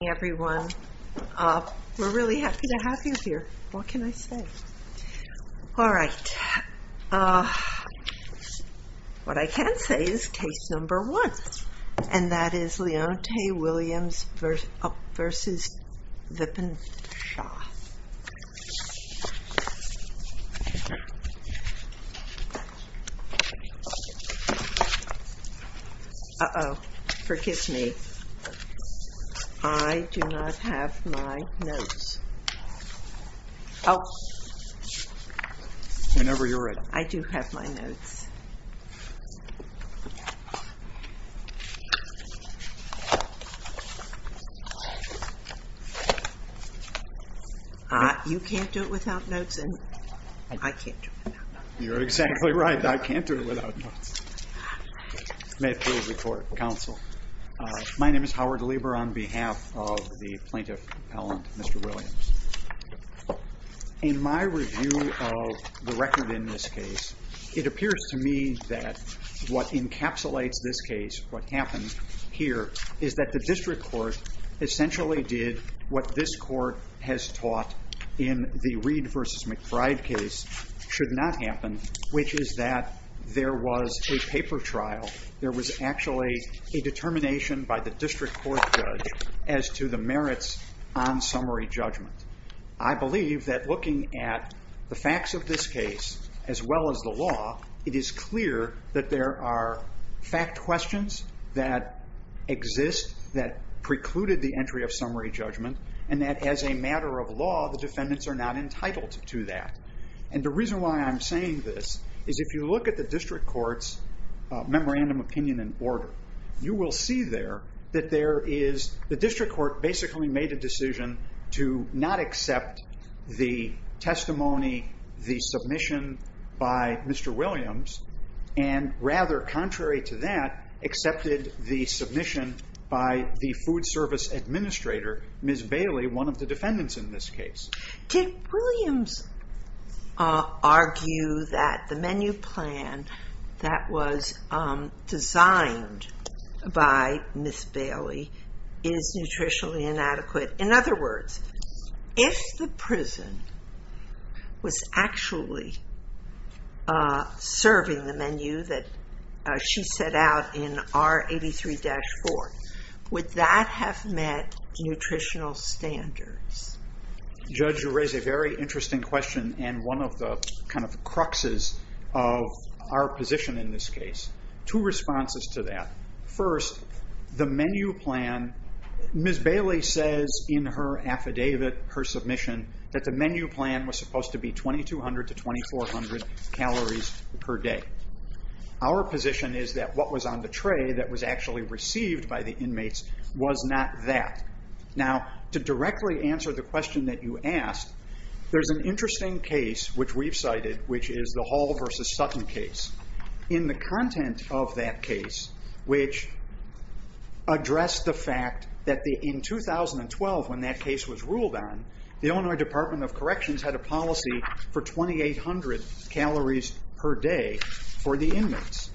Everyone we're really happy to have you here. What can I say? All right What I can say is case number one and that is Leonte Williams v. Vipin Shah Uh oh, forgive me. I do not have my notes. Whenever you're ready. I do have my notes. You can't do it without notes and I can't do it without notes. You're exactly right. I can't do it without notes. May it please the court, counsel. My name is Howard Lieber on behalf of the plaintiff, Mr. Williams. In my review of the record in this case, it appears to me that what encapsulates this case, what happened here, is that the district court essentially did what this court has taught in the Reed v. McBride case should not happen, which is that there was a paper trial. There was actually a determination by the district court judge as to the merits on summary judgment. I believe that looking at the facts of this case as well as the law, it is clear that there are fact questions that exist that precluded the entry of summary judgment and that as a matter of law, the defendants are not entitled to that. And the reason why I'm saying this is if you look at the district court's memorandum opinion and order, you will see there that the district court basically made a decision to not accept the testimony, the submission by Mr. Williams, and rather contrary to that, accepted the submission by the food service administrator, Ms. Bailey, one of the defendants in this case. Did Williams argue that the menu plan that was designed by Ms. Bailey is nutritionally inadequate? In other words, if the prison was actually serving the menu that she set out in R83-4, would that have met nutritional standards? Judge, you raise a very interesting question and one of the cruxes of our position in this case. Two responses to that. First, the menu plan, Ms. Bailey says in her affidavit, her submission, that the menu plan was supposed to be 2,200 to 2,400 calories per day. Our position is that what was on the tray that was actually received by the inmates was not that. Now, to directly answer the question that you asked, there's an interesting case which we've cited, which is the Hall v. Sutton case. In the content of that case, which addressed the fact that in 2012 when that case was ruled on, the Illinois Department of Corrections had a policy for 2,800 calories per day for the inmates.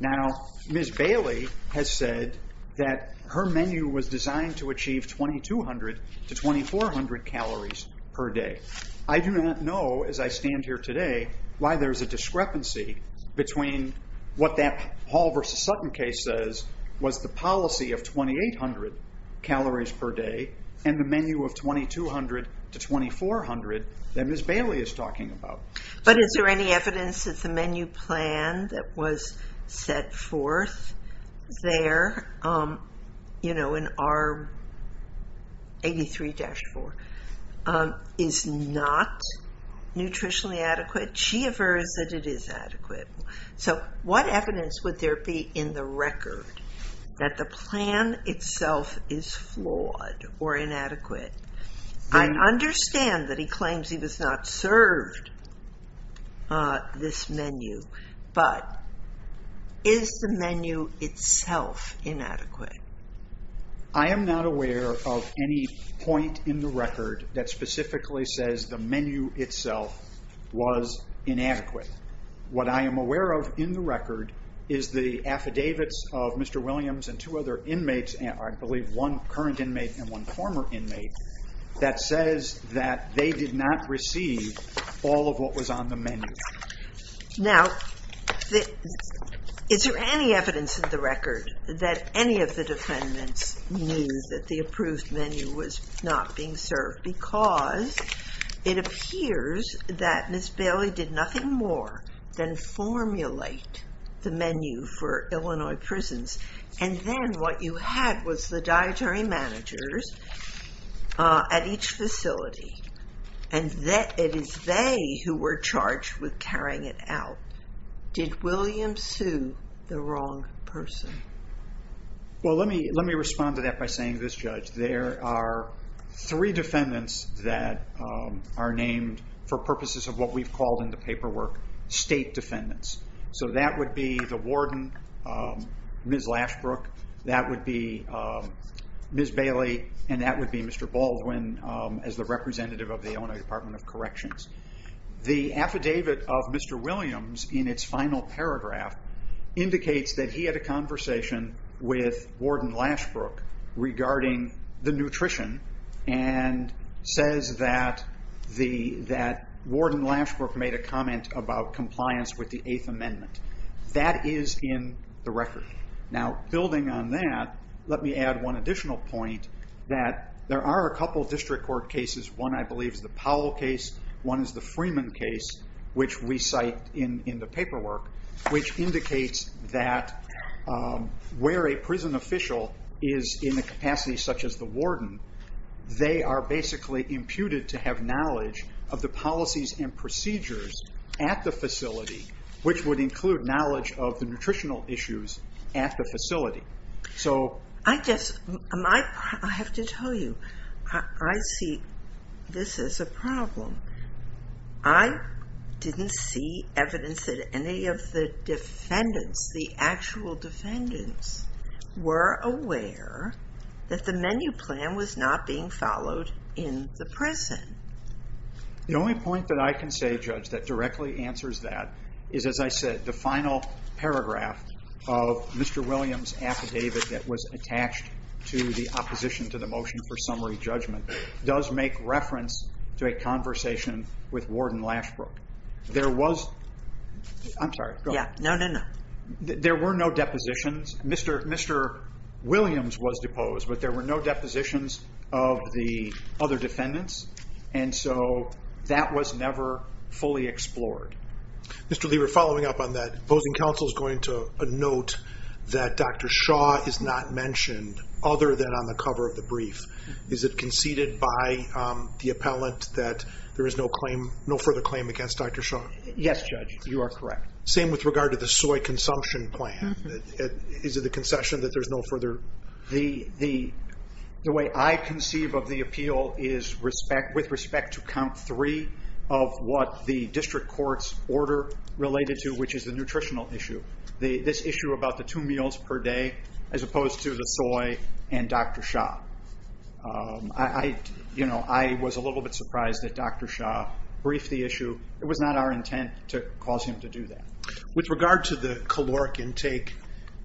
Now, Ms. Bailey has said that her menu was designed to achieve 2,200 to 2,400 calories per day. I do not know, as I stand here today, why there's a discrepancy between what that Hall v. Sutton case says was the policy of 2,800 calories per day and the menu of 2,200 to 2,400 that Ms. Bailey is talking about. But is there any evidence that the menu plan that was set forth there in R83-4 is not nutritionally adequate? So what evidence would there be in the record that the plan itself is flawed or inadequate? I understand that he claims he was not served this menu, but is the menu itself inadequate? I am not aware of any point in the record that specifically says the menu itself was inadequate. What I am aware of in the record is the affidavits of Mr. Williams and two other inmates, I believe one current inmate and one former inmate, that says that they did not receive all of what was on the menu. Now, is there any evidence in the record that any of the defendants knew that the approved menu was not being served? Because it appears that Ms. Bailey did nothing more than formulate the menu for Illinois prisons and then what you had was the dietary managers at each facility and it is they who were charged with carrying it out. Did Williams sue the wrong person? Well, let me respond to that by saying this, Judge. There are three defendants that are named for purposes of what we've called in the paperwork state defendants. So that would be the warden, Ms. Lashbrook, that would be Ms. Bailey, and that would be Mr. Baldwin as the representative of the Illinois Department of Corrections. The affidavit of Mr. Williams in its final paragraph indicates that he had a conversation with Warden Lashbrook regarding the nutrition and says that Warden Lashbrook made a comment about compliance with the Eighth Amendment. That is in the record. Now, building on that, let me add one additional point that there are a couple of district court cases. One, I believe, is the Powell case. One is the Freeman case, which we cite in the paperwork, which indicates that where a prison official is in the capacity such as the warden, they are basically imputed to have knowledge of the policies and procedures at the facility, which would include knowledge of the nutritional issues at the facility. I have to tell you, I see this as a problem. I didn't see evidence that any of the defendants, the actual defendants, were aware that the menu plan was not being followed in the prison. The only point that I can say, Judge, that directly answers that is, as I said, the final paragraph of Mr. Williams' affidavit that was attached to the opposition to the motion for summary judgment does make reference to a conversation with Warden Lashbrook. There was no depositions. Mr. Williams was deposed, but there were no depositions of the other defendants. And so that was never fully explored. Mr. Lieber, following up on that, opposing counsel is going to note that Dr. Shaw is not mentioned other than on the cover of the brief. Is it conceded by the appellant that there is no further claim against Dr. Shaw? Yes, Judge, you are correct. Same with regard to the soy consumption plan. Is it a concession that there's no further? The way I conceive of the appeal is with respect to count three of what the district court's order related to, which is the nutritional issue, this issue about the two meals per day as opposed to the soy and Dr. Shaw. I was a little bit surprised that Dr. Shaw briefed the issue. It was not our intent to cause him to do that. With regard to the caloric intake,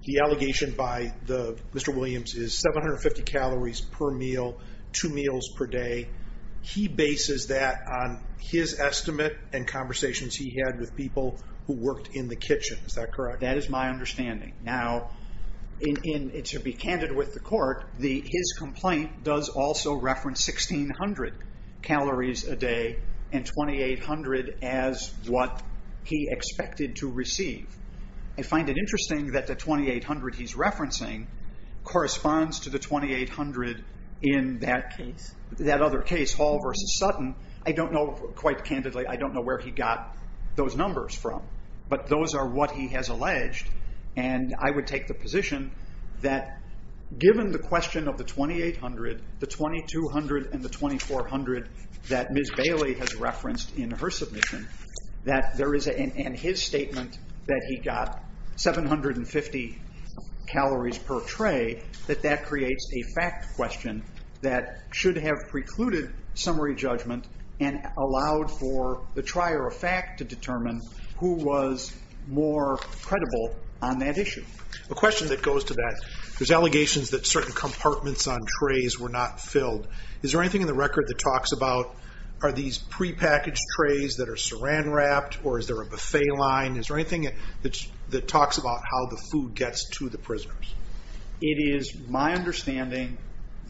the allegation by Mr. Williams is 750 calories per meal, two meals per day. He bases that on his estimate and conversations he had with people who worked in the kitchen. Is that correct? That is my understanding. Now, to be candid with the court, his complaint does also reference 1,600 calories a day and 2,800 as what he expected to receive. I find it interesting that the 2,800 he's referencing corresponds to the 2,800 in that other case, Hall v. Sutton. I don't know, quite candidly, I don't know where he got those numbers from, but those are what he has alleged. I would take the position that given the question of the 2,800, the 2,200, and the 2,400 that Ms. Bailey has referenced in her submission, that there is in his statement that he got 750 calories per tray, that that creates a fact question that should have precluded summary judgment and allowed for the trier of fact to determine who was more credible on that issue. A question that goes to that, there's allegations that certain compartments on trays were not filled. Is there anything in the record that talks about are these prepackaged trays that are saran wrapped or is there a buffet line? Is there anything that talks about how the food gets to the prisoners? It is my understanding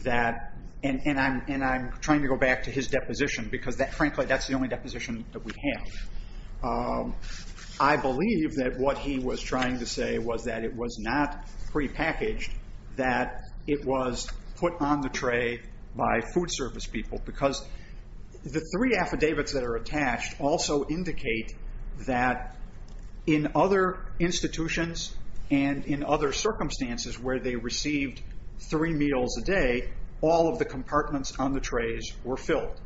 that, and I'm trying to go back to his deposition, because frankly that's the only deposition that we have. I believe that what he was trying to say was that it was not prepackaged, that it was put on the tray by food service people, because the three affidavits that are attached also indicate that in other institutions and in other circumstances where they received three meals a day, all of the compartments on the trays were filled.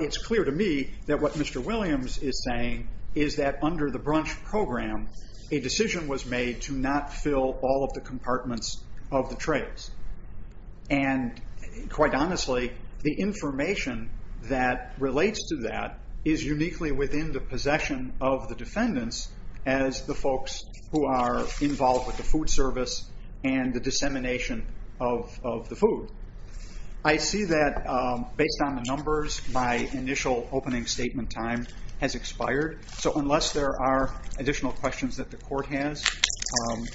It's clear to me that what Mr. Williams is saying is that under the brunch program, a decision was made to not fill all of the compartments of the trays. Quite honestly, the information that relates to that is uniquely within the possession of the defendants as the folks who are involved with the food service and the dissemination of the food. I see that based on the numbers, my initial opening statement time has expired, so unless there are additional questions that the court has,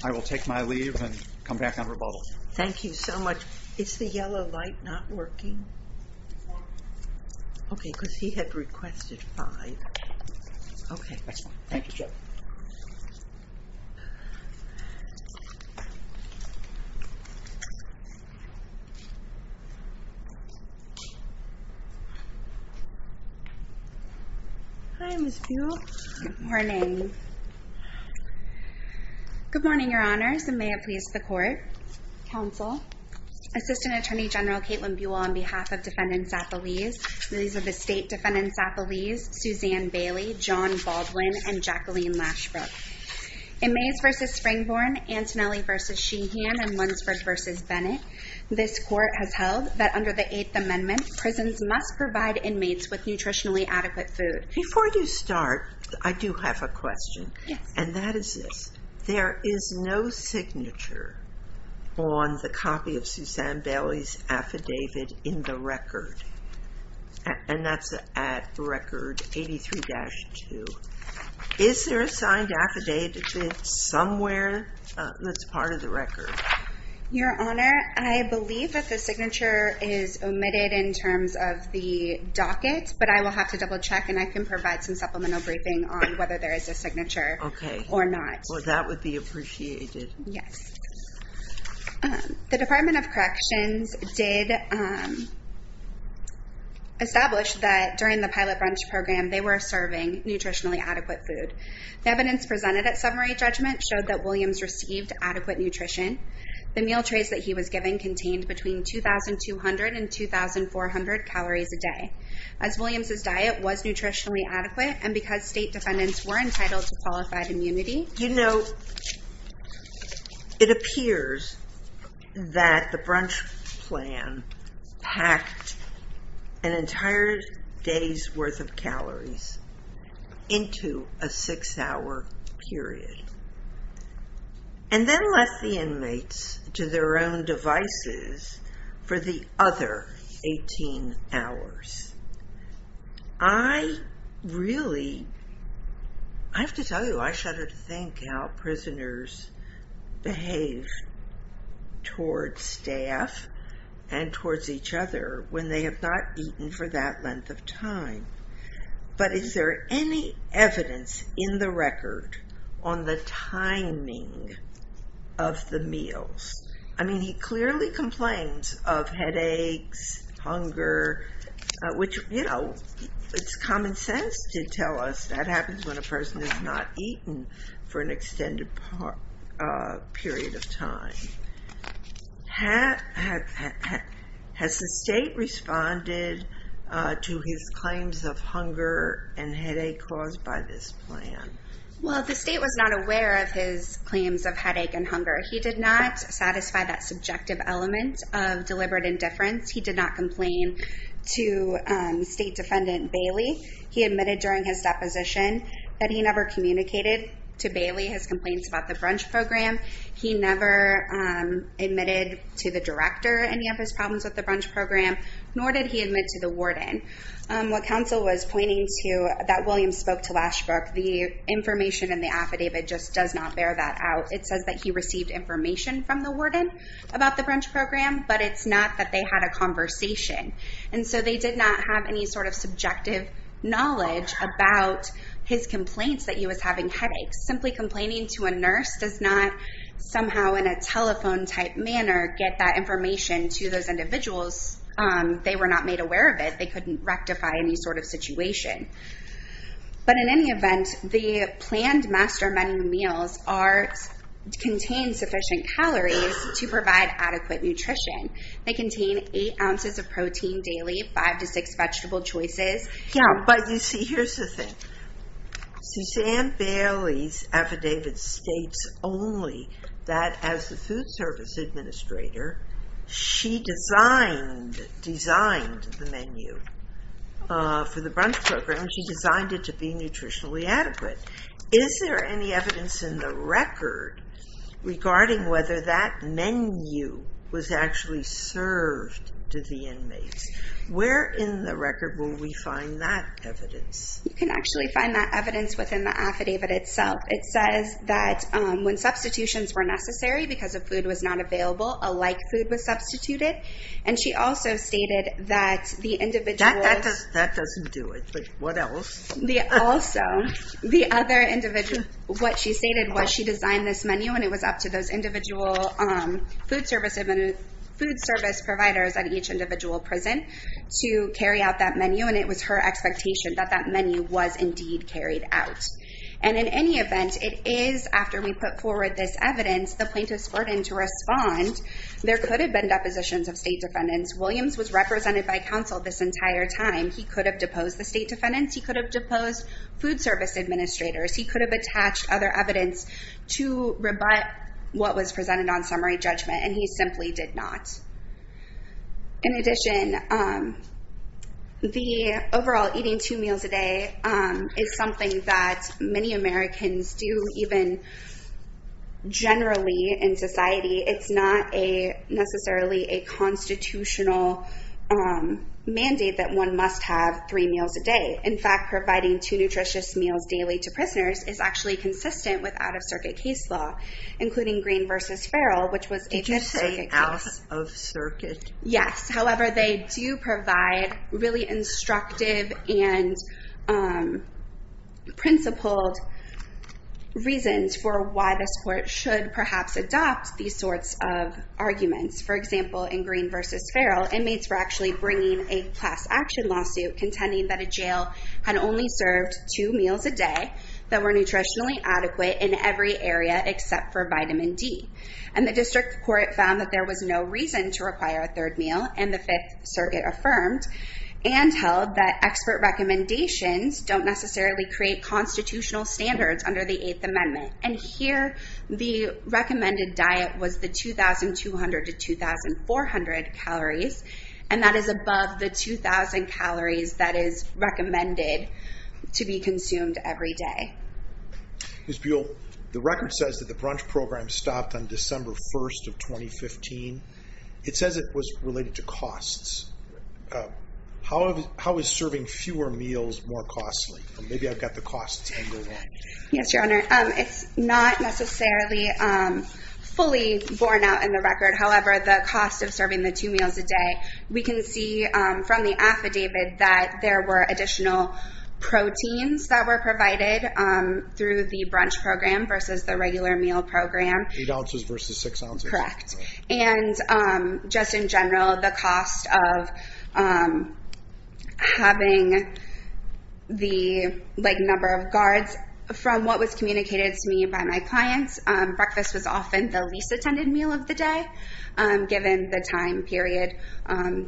I will take my leave and come back on rebuttal. Thank you so much. Is the yellow light not working? Okay, because he had requested five. Okay, thank you. Hi, Ms. Buell. Good morning. Good morning, Your Honors, and may it please the Court, Counsel, Assistant Attorney General Caitlin Buell, on behalf of Defendants Appellees. These are the State Defendants Appellees, Suzanne Bailey, John Baldwin, and Jacqueline Lashbrook. In Mays v. Springborn, Antonelli v. Sheehan, and Lunsford v. Bennett, this Court has held that under the Eighth Amendment, prisons must provide inmates with nutritionally adequate food. Before you start, I do have a question, and that is this. There is no signature on the copy of Suzanne Bailey's affidavit in the record, and that's at Record 83-2. Is there a signed affidavit somewhere that's part of the record? Your Honor, I believe that the signature is omitted in terms of the docket, but I will have to double-check, and I can provide some supplemental briefing on whether there is a signature or not. Okay. Well, that would be appreciated. Yes. The Department of Corrections did establish that during the Pilot Brunch Program, they were serving nutritionally adequate food. The evidence presented at summary judgment showed that Williams received adequate nutrition. The meal trays that he was given contained between 2,200 and 2,400 calories a day. As Williams' diet was nutritionally adequate and because state defendants were entitled to qualified immunity. You know, it appears that the brunch plan packed an entire day's worth of calories into a six-hour period and then left the inmates to their own devices for the other 18 hours. I really, I have to tell you, I shudder to think how prisoners behave towards staff and towards each other when they have not eaten for that length of time. But is there any evidence in the record on the timing of the meals? I mean, he clearly complains of headaches, hunger, which, you know, it's common sense to tell us that happens when a person has not eaten for an extended period of time. Has the state responded to his claims of hunger and headache caused by this plan? Well, the state was not aware of his claims of headache and hunger. He did not satisfy that subjective element of deliberate indifference. He did not complain to State Defendant Bailey. He admitted during his deposition that he never communicated to Bailey his complaints about the brunch program. He never admitted to the director any of his problems with the brunch program, nor did he admit to the warden. What counsel was pointing to, that William spoke to last week, the information in the affidavit just does not bear that out. It says that he received information from the warden about the brunch program, but it's not that they had a conversation. And so they did not have any sort of subjective knowledge about his complaints that he was having headaches. Simply complaining to a nurse does not somehow in a telephone-type manner get that information to those individuals. They were not made aware of it. They couldn't rectify any sort of situation. But in any event, the planned master menu meals contain sufficient calories to provide adequate nutrition. They contain eight ounces of protein daily, five to six vegetable choices. But you see, here's the thing. Suzanne Bailey's affidavit states only that as the food service administrator, she designed the menu for the brunch program. She designed it to be nutritionally adequate. Is there any evidence in the record regarding whether that menu was actually served to the inmates? Where in the record will we find that evidence? You can actually find that evidence within the affidavit itself. It says that when substitutions were necessary because the food was not available, a like food was substituted. And she also stated that the individual... That doesn't do it. But what else? Also, the other individual... What she stated was she designed this menu and it was up to those individual food service providers at each individual prison to carry out that menu. And it was her expectation that that menu was indeed carried out. And in any event, it is after we put forward this evidence, the plaintiff's burden to respond. There could have been depositions of state defendants. Williams was represented by counsel this entire time. He could have deposed the state defendants. He could have deposed food service administrators. He could have attached other evidence to rebut what was presented on summary judgment. And he simply did not. In addition, the overall eating two meals a day is something that many Americans do even generally in society. It's not necessarily a constitutional mandate that one must have three meals a day. In fact, providing two nutritious meals daily to prisoners is actually consistent with out-of-circuit case law, including Green v. Farrell, which was a... Did you say out-of-circuit? Yes. However, they do provide really instructive and principled reasons for why this court should perhaps adopt these sorts of arguments. For example, in Green v. Farrell, inmates were actually bringing a class-action lawsuit contending that a jail had only served two meals a day that were nutritionally adequate in every area except for vitamin D. And the district court found that there was no reason to require a third meal, and the Fifth Circuit affirmed and held that expert recommendations don't necessarily create constitutional standards under the Eighth Amendment. And here, the recommended diet was the 2,200 to 2,400 calories, and that is above the 2,000 calories that is recommended to be consumed every day. Ms. Buell, the record says that the brunch program stopped on December 1st of 2015. It says it was related to costs. How is serving fewer meals more costly? Maybe I've got the costs angle wrong. Yes, Your Honor. It's not necessarily fully borne out in the record. However, the cost of serving the two meals a day, we can see from the affidavit that there were additional proteins that were provided through the brunch program versus the regular meal program. Eight ounces versus six ounces. Correct. And just in general, the cost of having the number of guards, from what was communicated to me by my clients, breakfast was often the least attended meal of the day given the time period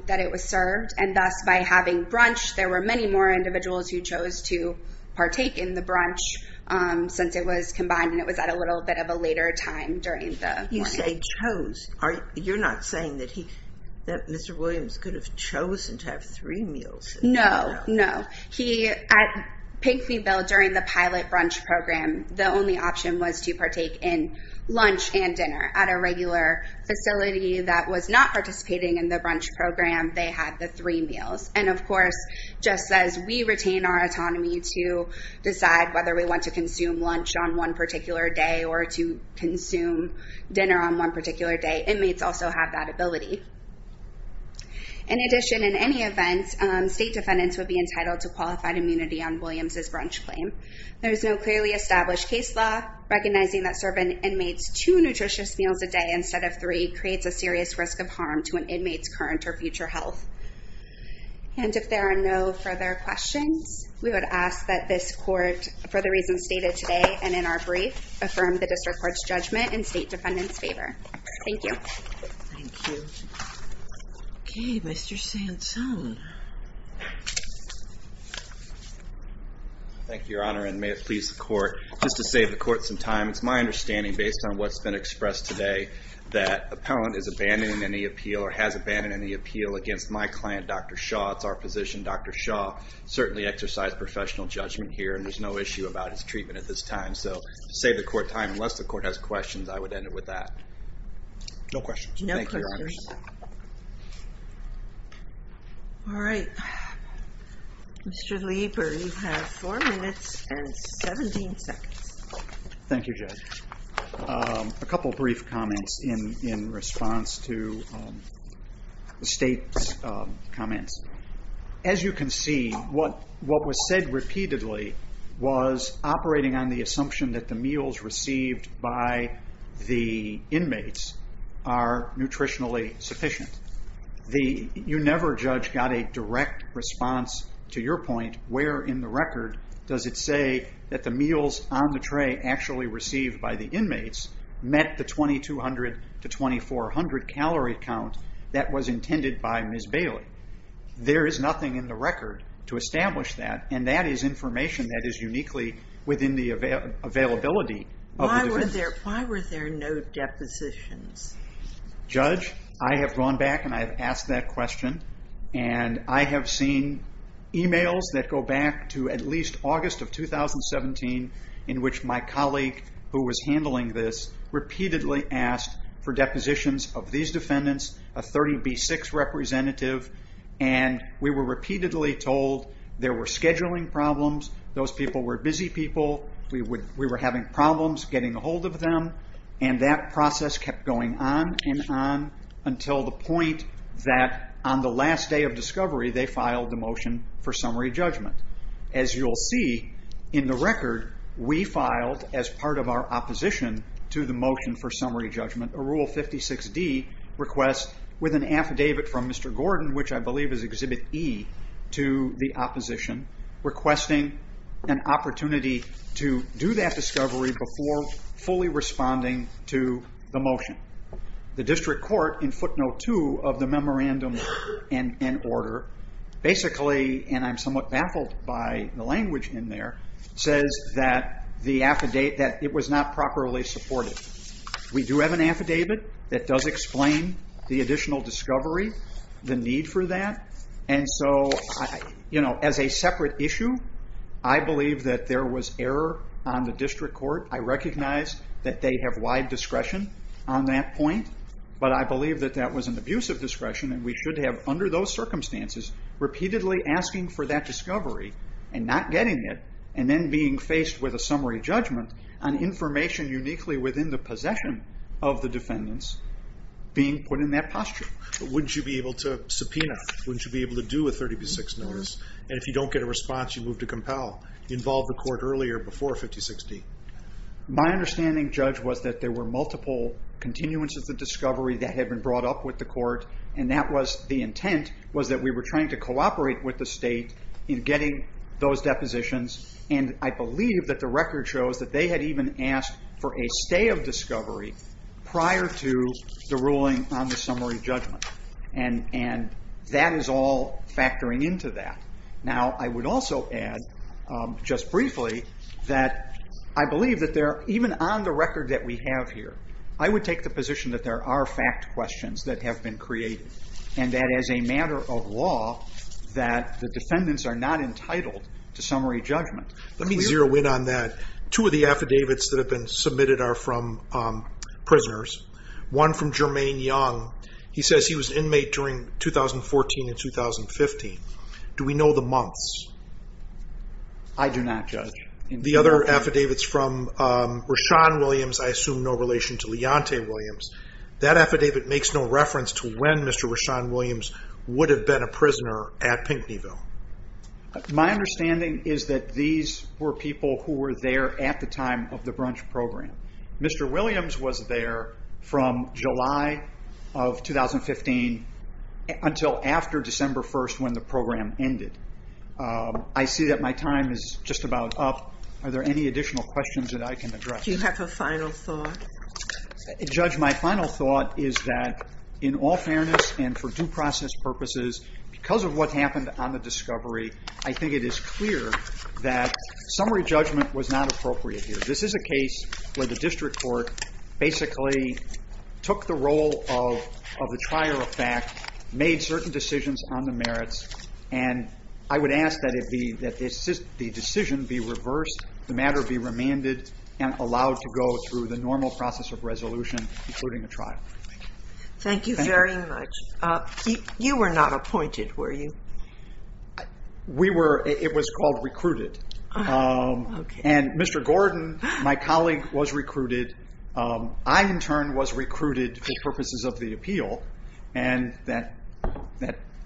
that it was served. And thus, by having brunch, there were many more individuals who chose to partake in the brunch since it was combined, and it was at a little bit of a later time during the morning. You say chose. You're not saying that Mr. Williams could have chosen to have three meals? No, no. At Pinkfeetville, during the pilot brunch program, the only option was to partake in lunch and dinner. At a regular facility that was not participating in the brunch program, they had the three meals. And of course, just as we retain our autonomy to decide whether we want to consume lunch on one particular day or to consume dinner on one particular day, inmates also have that ability. In addition, in any event, state defendants would be entitled to qualified immunity on Williams' brunch claim. There is no clearly established case law recognizing that serving inmates two nutritious meals a day instead of three creates a serious risk of harm to an inmate's current or future health. And if there are no further questions, we would ask that this court, for the reasons stated today and in our brief, affirm the district court's judgment in state defendant's favor. Thank you. Thank you. Okay, Mr. Sansone. Thank you, Your Honor, and may it please the court, just to save the court some time, it's my understanding, based on what's been expressed today, that appellant is abandoning any appeal or has abandoned any appeal against my client, Dr. Shaw. It's our physician, Dr. Shaw, certainly exercised professional judgment here, and there's no issue about his treatment at this time. So to save the court time, unless the court has questions, I would end it with that. No questions. Thank you, Your Honor. All right. Mr. Lieber, you have four minutes and 17 seconds. Thank you, Judge. A couple brief comments in response to the state's comments. As you can see, what was said repeatedly was operating on the assumption that the meals received by the inmates are nutritionally sufficient. You never, Judge, got a direct response to your point. Where in the record does it say that the meals on the tray actually received by the inmates met the 2200 to 2400 calorie count that was intended by Ms. Bailey? There is nothing in the record to establish that, and that is information that is uniquely within the availability of the defendant. Why were there no depositions? Judge, I have gone back and I have asked that question, and I have seen emails that go back to at least August of 2017, in which my colleague who was handling this repeatedly asked for depositions of these defendants, a 30B6 representative, and we were repeatedly told there were scheduling problems, those people were busy people, we were having problems getting a hold of them, and that process kept going on and on until the point that on the last day of discovery they filed the motion for summary judgment. As you will see in the record, we filed, as part of our opposition to the motion for summary judgment, a Rule 56D request with an affidavit from Mr. Gordon, which I believe is Exhibit E to the opposition, requesting an opportunity to do that discovery before fully responding to the motion. The district court, in footnote 2 of the memorandum and order, basically, and I am somewhat baffled by the language in there, says that it was not properly supported. We do have an affidavit that does explain the additional discovery, the need for that, and so, as a separate issue, I believe that there was error on the district court. I recognize that they have wide discretion on that point, but I believe that that was an abusive discretion, and we should have, under those circumstances, repeatedly asking for that discovery and not getting it, and then being faced with a summary judgment on information uniquely within the possession of the defendants being put in that posture. Wouldn't you be able to subpoena? Wouldn't you be able to do a 30 v. 6 notice? And if you don't get a response, you move to compel. You involved the court earlier, before 56D. My understanding, Judge, was that there were multiple continuances of discovery that had been brought up with the court, and that was the intent, was that we were trying to cooperate with the state in getting those depositions, and I believe that the record shows that they had even asked for a stay of discovery prior to the ruling on the summary judgment, and that is all factoring into that. Now, I would also add, just briefly, that I believe that even on the record that we have here, I would take the position that there are fact questions that have been created, and that as a matter of law, that the defendants are not entitled to summary judgment. Let me zero in on that. Two of the affidavits that have been submitted are from prisoners. One from Jermaine Young. He says he was an inmate during 2014 and 2015. Do we know the months? I do not, Judge. The other affidavit's from Rashawn Williams, I assume no relation to Leontay Williams. That affidavit makes no reference to when Mr. Rashawn Williams would have been a prisoner at Pinckneyville. My understanding is that these were people who were there at the time of the brunch program. Mr. Williams was there from July of 2015 until after December 1st when the program ended. I see that my time is just about up. Are there any additional questions that I can address? Do you have a final thought? Judge, my final thought is that in all fairness and for due process purposes, because of what happened on the discovery, I think it is clear that summary judgment was not appropriate here. This is a case where the district court basically took the role of the trier of fact, made certain decisions on the merits, and I would ask that the decision be reversed, the matter be remanded, and allowed to go through the normal process of resolution, including a trial. Thank you very much. You were not appointed, were you? We were. It was called recruited. Okay. And Mr. Gordon, my colleague, was recruited. I, in turn, was recruited for purposes of the appeal, and that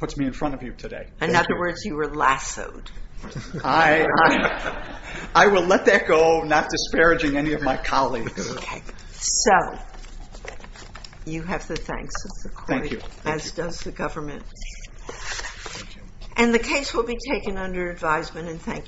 puts me in front of you today. In other words, you were lassoed. I will let that go, not disparaging any of my colleagues. Okay. So you have the thanks of the court. Thank you. As does the government. Thank you.